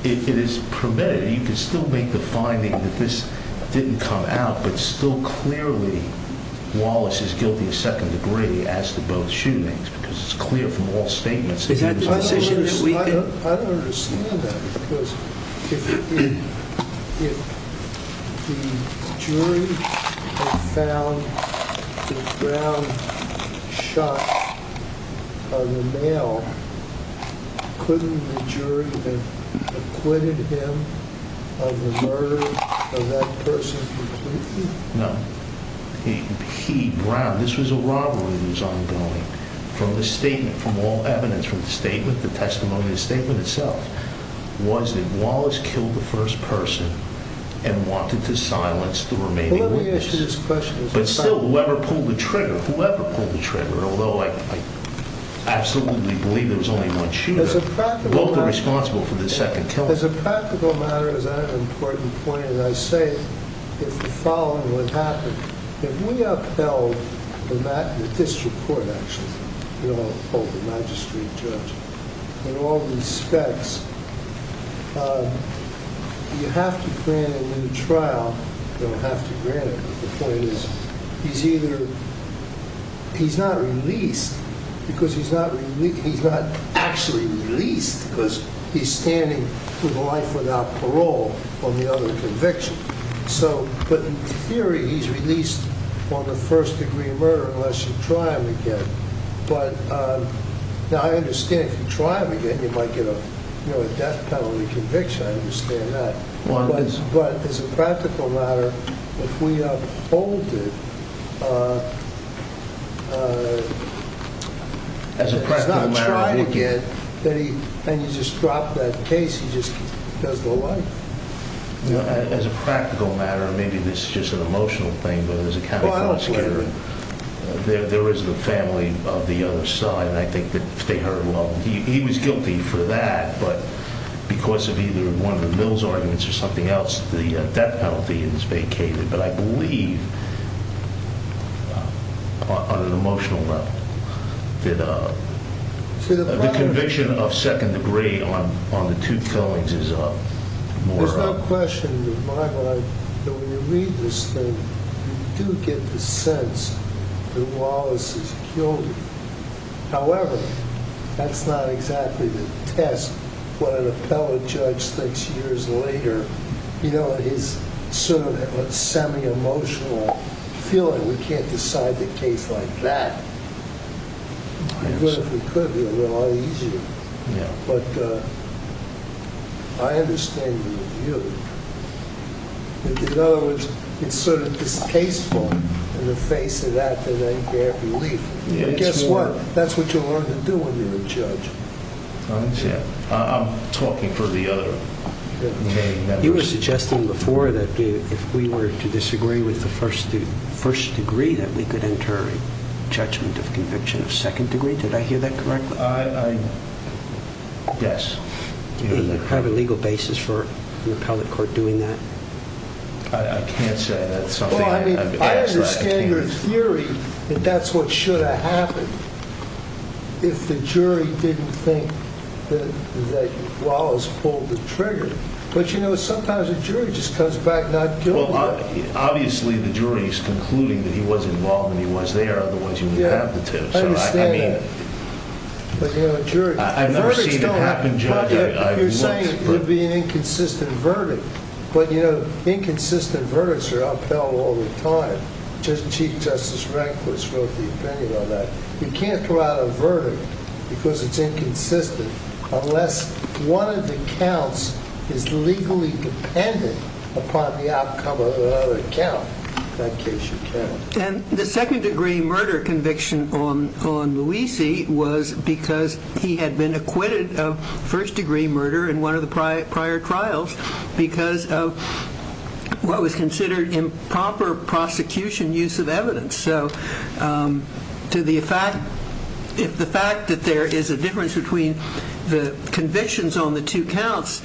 if it is permitted, you can still make the finding that this didn't come out, but still clearly Wallace is guilty of second degree as to both shootings because it's clear from all statements. I don't understand that because if the jury had found that Brown shot a male, couldn't the jury have acquitted him of the murder of that person completely? No. He, Brown, this was a robbery that was ongoing from the statement, from all evidence, from the statement, the testimony, the statement itself, was that Wallace killed the first person and wanted to silence the remaining witnesses. But still, whoever pulled the trigger, whoever pulled the trigger, although I absolutely believe there was only one shooter, both are responsible for the second killing. As a practical matter, as an important point, as I say, if the following would happen, if we upheld the district court actions, the magistrate judge, in all respects, you have to grant a new trial. You don't have to grant it, but the point is, he's either, he's not released because he's not actually released because he's standing for life without parole on the other conviction. So, but in theory, he's released on the first degree murder unless you try him again. But, now I understand if you try him again, you might get a, you know, a death penalty conviction. I understand that. But as a practical matter, if we uphold it, it's not trying again, and you just drop that case, he just does the life. As a practical matter, maybe this is just an emotional thing, but as a county prosecutor, there is the family of the other side, and I think that if they hurt him, well, he was guilty for that, but because of either one of the Mills arguments or something else, the death penalty is vacated. But I believe, on an emotional level, that the conviction of second degree on the two killings is more of... There's no question in my mind that when you read this thing, you do get the sense that Wallace is guilty. However, that's not exactly the test, what an appellate judge thinks years later, you know, his sort of semi-emotional feeling, we can't decide the case like that. I understand. If we could, it would be a lot easier. But I understand your view. In other words, it's sort of distasteful, in the face of that, that I can't believe. And guess what? That's what you learn to do when you're a judge. I'm talking for the other. You were suggesting before that if we were to disagree with the first degree, that we could enter judgment of conviction of second degree. Did I hear that correctly? Yes. Do you have a legal basis for an appellate court doing that? I can't say. Well, I mean, I understand your theory that that's what should have happened if the jury didn't think that Wallace pulled the trigger. But you know, sometimes a jury just comes back not guilty. Obviously, the jury is concluding that he was involved and he was there, otherwise you wouldn't have the tips. I understand that. I've never seen it happen, Judge. You're saying it would be an inconsistent verdict. But, you know, inconsistent verdicts are upheld all the time. Chief Justice Rehnquist wrote the opinion on that. You can't throw out a verdict because it's inconsistent, unless one of the counts is legally dependent upon the outcome of another count. In that case, you can't. And the second degree murder conviction on Luisi was because he had been acquitted of first degree murder in one of the prior trials because of what was considered improper prosecution use of evidence. So if the fact that there is a difference between the convictions on the two counts,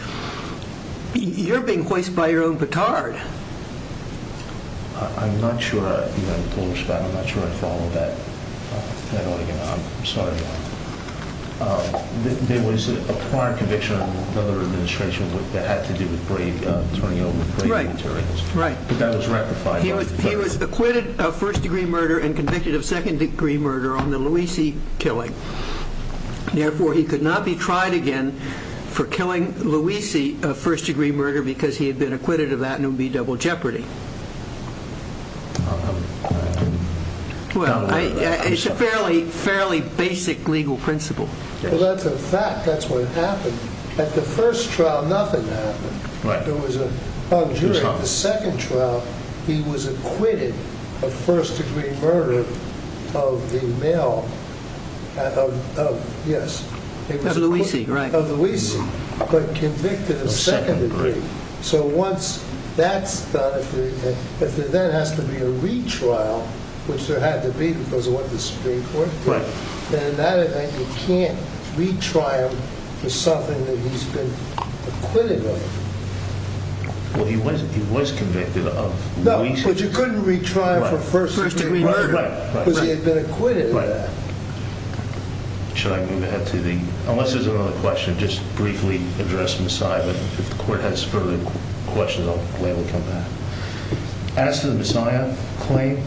you're being hoisted by your own batard. I'm not sure I follow that. I'm sorry. There was a prior conviction under another administration that had to do with turning over brave materials. But that was ratified. He was acquitted of first degree murder and convicted of second degree murder on the Luisi killing. Therefore, he could not be tried again for killing Luisi, a first degree murder, because he had been acquitted of that double jeopardy. It's a fairly basic legal principle. Well, that's a fact. That's what happened. At the first trial, nothing happened. At the second trial, he was acquitted of first degree murder of the male, of Luisi, but convicted of second degree. So once that's done, if there then has to be a retrial, which there had to be because of what the Supreme Court did, then in that event, you can't retry him for something that he's been acquitted of. Well, he was convicted of Luisi. No, but you couldn't retry him for first degree murder because he had been acquitted of that. Should I move ahead to the... Unless there's another question, just briefly address Masai. If the court has further questions, I'll gladly come back. As to the Masai claim,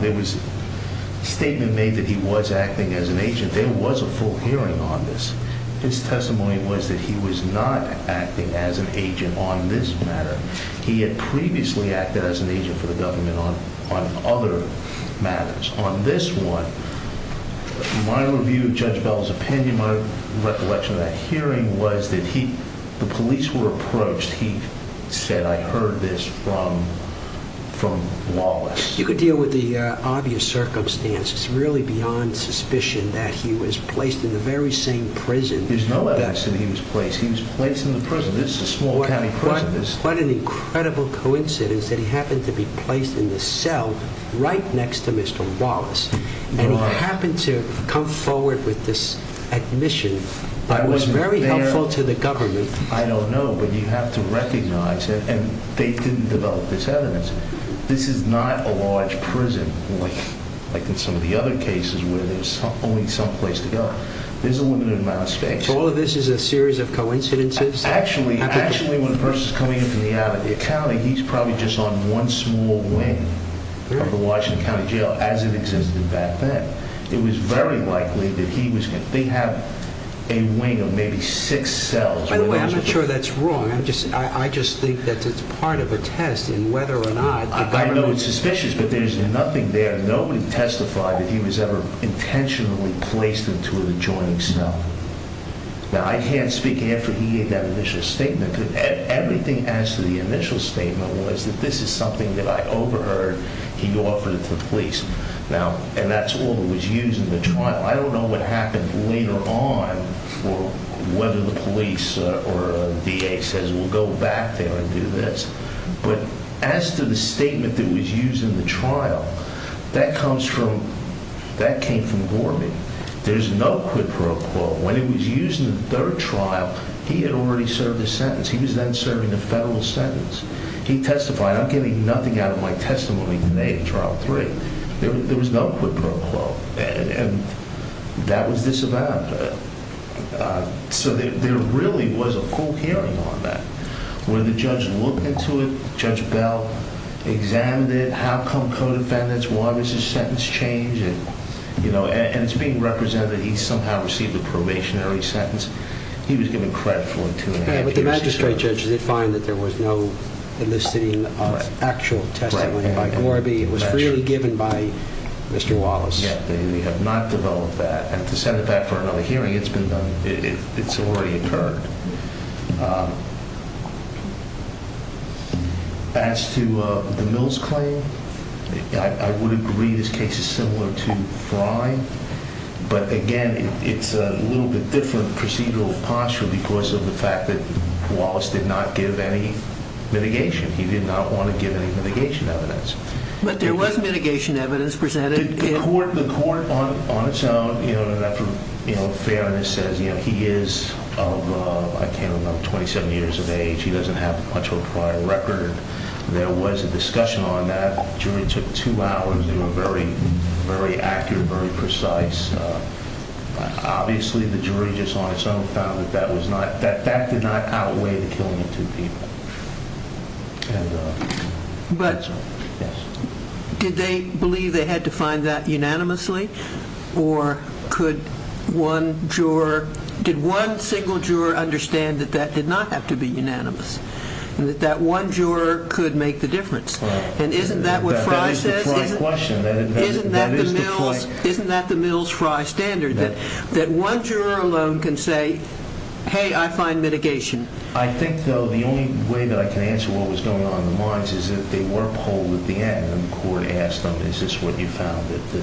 there was a statement made that he was acting as an agent. There was a full hearing on this. His testimony was that he was not acting as an agent on this matter. He had previously acted as an agent for the government on other matters. On this one, my review of Judge Bell's opinion, in my recollection of that hearing, was that the police were approached. He said, I heard this from Wallace. You could deal with the obvious circumstances really beyond suspicion that he was placed in the very same prison that... There's no evidence that he was placed. He was placed in the prison. This is a small county prison. What an incredible coincidence that he happened to be placed in the cell right next to Mr. Wallace. He happened to come forward with this admission that was very helpful to the government. I don't know, but you have to recognize, and they didn't develop this evidence, this is not a large prison, like in some of the other cases where there's only some place to go. There's a limited amount of space. So all of this is a series of coincidences? Actually, when a person's coming in from the out of the county, he's probably just on one small wing of the Washington County Jail, as it exists. And back then, it was very likely that he was going to... They have a wing of maybe six cells. By the way, I'm not sure that's wrong. I just think that it's part of a test in whether or not the government... I know it's suspicious, but there's nothing there. Nobody testified that he was ever intentionally placed into an adjoining cell. Now, I can't speak after he gave that initial statement. Everything as to the initial statement was that this is something that I overheard. He offered it to the police. And that's all that was used in the trial. I don't know what happened later on for whether the police or the DA says, we'll go back there and do this. But as to the statement that was used in the trial, that comes from... That came from Gorman. There's no quid pro quo. When he was using the third trial, he had already served his sentence. He was then serving a federal sentence. He testified. I'm getting nothing out of my testimony today that there was no quid pro quo. And that was disavowed. So there really was a full hearing on that. When the judge looked into it, Judge Bell examined it. How come co-defendants? Why was his sentence changed? And it's being represented that he somehow received a probationary sentence. He was given credit for it two and a half years later. But the magistrate judge did find that there was no eliciting actual testimony by Gorby. It was freely given by Mr. Wallace. They have not developed that. And to send it back for another hearing, it's been done. It's already occurred. As to the Mills claim, I would agree this case is similar to Frye. But again, it's a little bit different procedural posture because of the fact that Wallace did not give any mitigation. He did not want to give any mitigation evidence. But there was mitigation evidence presented. The court on its own, you know, Fairness says he is of, I can't remember, 27 years of age. He doesn't have much of a prior record. There was a discussion on that. The jury took two hours to do a very, very accurate, very precise. Obviously, the jury just on its own found that that did not outweigh the killing of two people. But did they believe they had to find that unanimously? Or could one juror, did one single juror understand that that did not have to be unanimous and that that one juror could make the difference? And isn't that what Frye says? Isn't that the Mills-Frye standard that one juror alone can say, hey, I find mitigation. I think, though, the only way that I can answer what was going on in the minds is that they were polled at the end and the court asked them, is this what you found?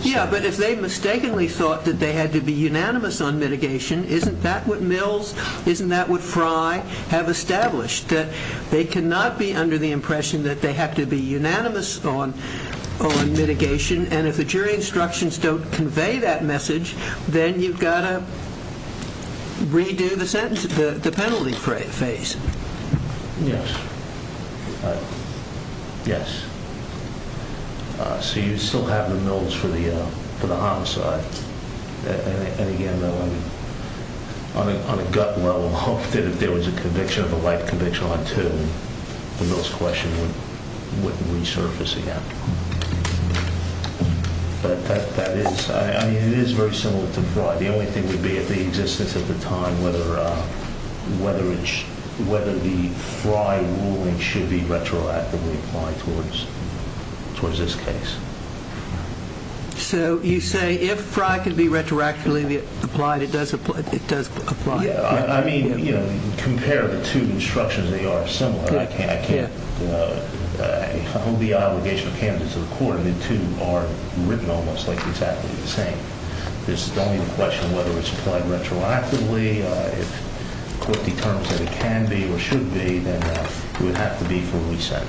Yeah, but if they mistakenly thought that they had to be unanimous on mitigation, isn't that what Mills, isn't that what Frye have established? They cannot be under the impression that they have to be unanimous on mitigation. And if the jury instructions don't convey that message, then you've got to redo the sentence, the penalty phase. Right. Yes. So you still have the Mills for the homicide. And again, though, on a gut level, if there was a conviction of a light conviction on two, the Mills question wouldn't resurface again. But that is, I mean, it is very similar to Frye. The only thing would be at the existence at the time whether the Frye ruling could be retroactively applied towards this case. So you say if Frye could be retroactively applied, it does apply. I mean, you know, compare the two instructions, they are similar. I can't hold the obligation of candidates to the court and the two are written almost like exactly the same. There's only the question whether it's applied retroactively. If the court determines that it's applied retroactively, that I can hold the obligation to the court to reset.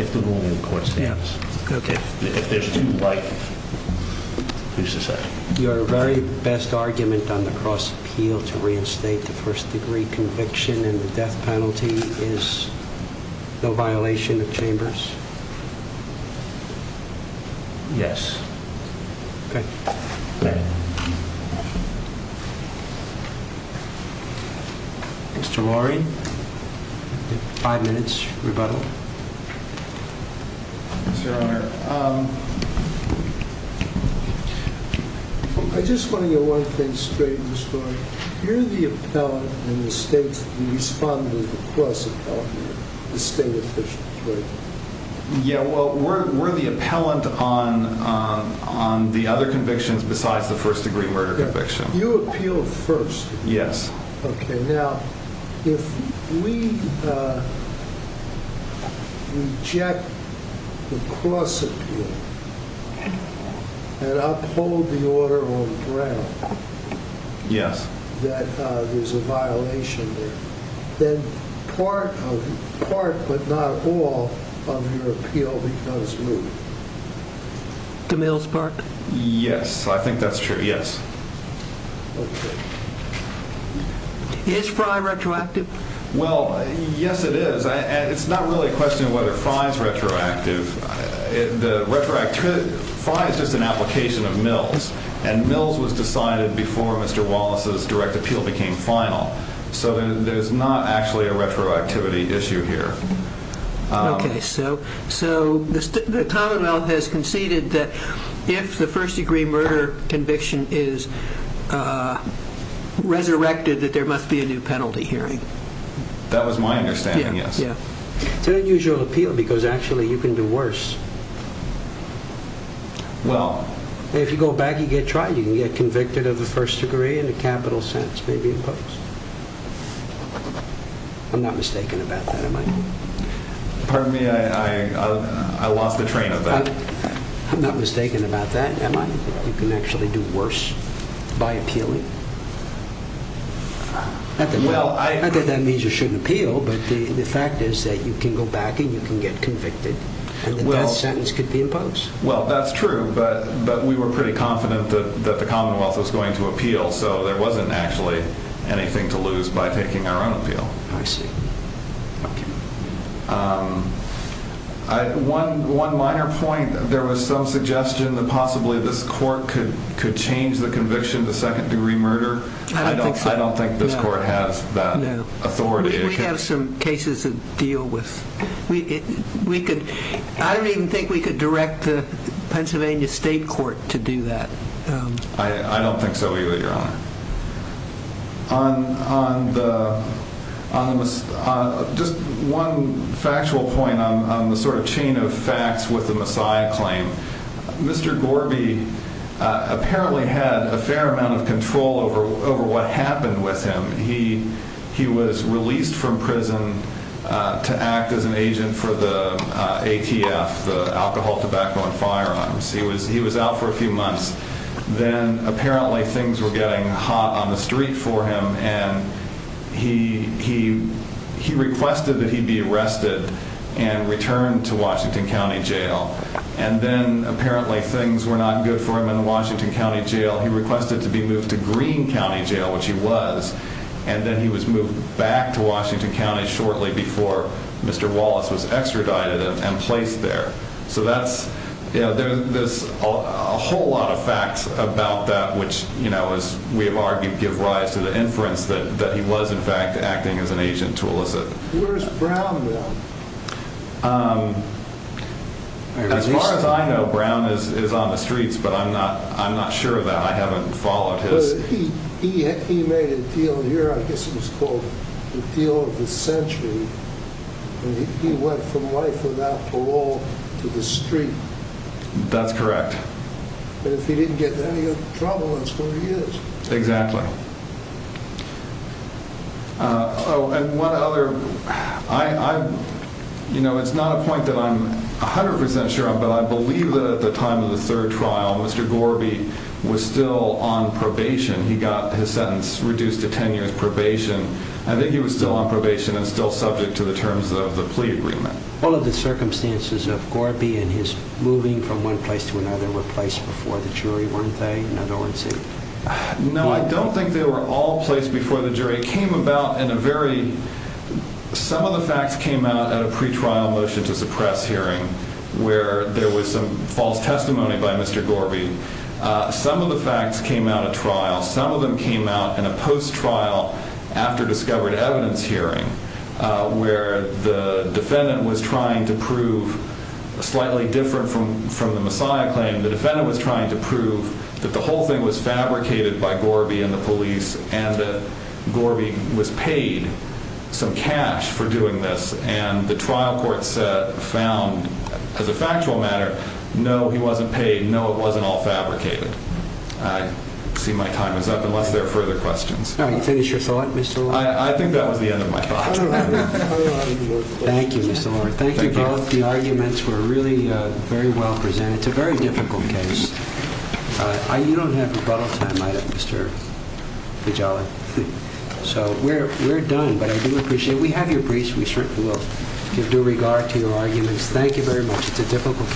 If the ruling in court stands. Okay. If there's two light, who's to say? Your very best argument on the cross appeal to reinstate the first degree conviction and the death penalty is the violation of Chambers? Yes. Okay. Mr. Lorry, five minutes rebuttal. Yes, Your Honor. I just want to get one thing straight in the story. You're the appellant and the state's respondent of the cross appellate, the state official. You're the appellant on the other convictions besides the first degree murder conviction. You appealed first. Yes. Okay, now, if we reject the cross appeal and uphold the order on the ground that there's a violation there, then part but not all of your appeal is retroactive. To Mill's part? Yes, I think that's true. Yes. Is Fry retroactive? Well, yes, it is. It's not really a question of whether Fry is retroactive. Fry is just an application of Mill's and Mill's was decided before Mr. Wallace's direct appeal became final. So there's not actually a retroactivity issue here. Mr. Love has conceded that if the first degree murder conviction is resurrected that there must be a new penalty hearing. That was my understanding, yes. It's an unusual appeal because actually you can do worse. Well... If you go back and get tried, you can get convicted of the first degree in a capital sentence, maybe in post. I'm not mistaken about that, am I? Pardon me, I'm not mistaken about that, am I? You can actually do worse by appealing? I don't think that means you shouldn't appeal, but the fact is that you can go back and you can get convicted and the death sentence could be in post. Well, that's true, but we were pretty confident that the Commonwealth was going to appeal, so there wasn't actually anything to lose by taking our own appeal. I see. One minor point that there was some suggestion that possibly this court could change the conviction to second degree murder. I don't think this court has that authority. No, we have some cases that deal with... I don't even think we could direct the Pennsylvania State Court to do that. I don't think so either, Your Honor. On the... Just one factual point that I would like to make on this claim. Mr. Gorby apparently had a fair amount of control over what happened with him. He was released from prison to act as an agent for the ATF, the Alcohol, Tobacco, and Firearms. He was out for a few months. Then, apparently, things were getting hot on the street for him and he requested that he be arrested and then, apparently, things were not good for him in the Washington County Jail. He requested to be moved to Green County Jail, which he was, and then he was moved back to Washington County shortly before Mr. Wallace was extradited and placed there. There's a whole lot of facts about that which, as we have argued, give rise to the inference that he was, in fact, a drug dealer. I know Brown is on the streets, but I'm not sure of that. I haven't followed his... He made a deal here. I guess it was called the deal of the century. He went from life without parole to the street. That's correct. If he didn't get into any trouble, that's where he is. Exactly. One other... It's not a point that I'm 100% sure of, but I believe that at the time of the third trial, Mr. Gorby was still on probation. He got his sentence reduced to 10 years probation. I think he was still on probation and still subject to the terms of the plea agreement. All of the circumstances of Gorby and his moving from one place to another were placed before the jury, and I think they were all placed before the jury. It came about in a very... Some of the facts came out at a pretrial motion to suppress hearing where there was some false testimony by Mr. Gorby. Some of the facts came out at trial. Some of them came out in a post-trial after-discovered-evidence hearing where the defendant was trying to prove that Gorby was involved in the police and that Gorby was paid some cash for doing this, and the trial court found, as a factual matter, no, he wasn't paid. No, it wasn't all fabricated. I see my time is up unless there are further questions. Can you finish your thought, Mr. Lover? I think that was the end of my thought. Thank you, Mr. Lover. Thank you both. The arguments were really very well presented. It's a very difficult case. You don't have rebuttal time, Mr. Vigeli. So we're done, but I do appreciate it. We have your briefs. We certainly will give due regard to your arguments. Thank you very much. It's a difficult case. We'll stand adjourned.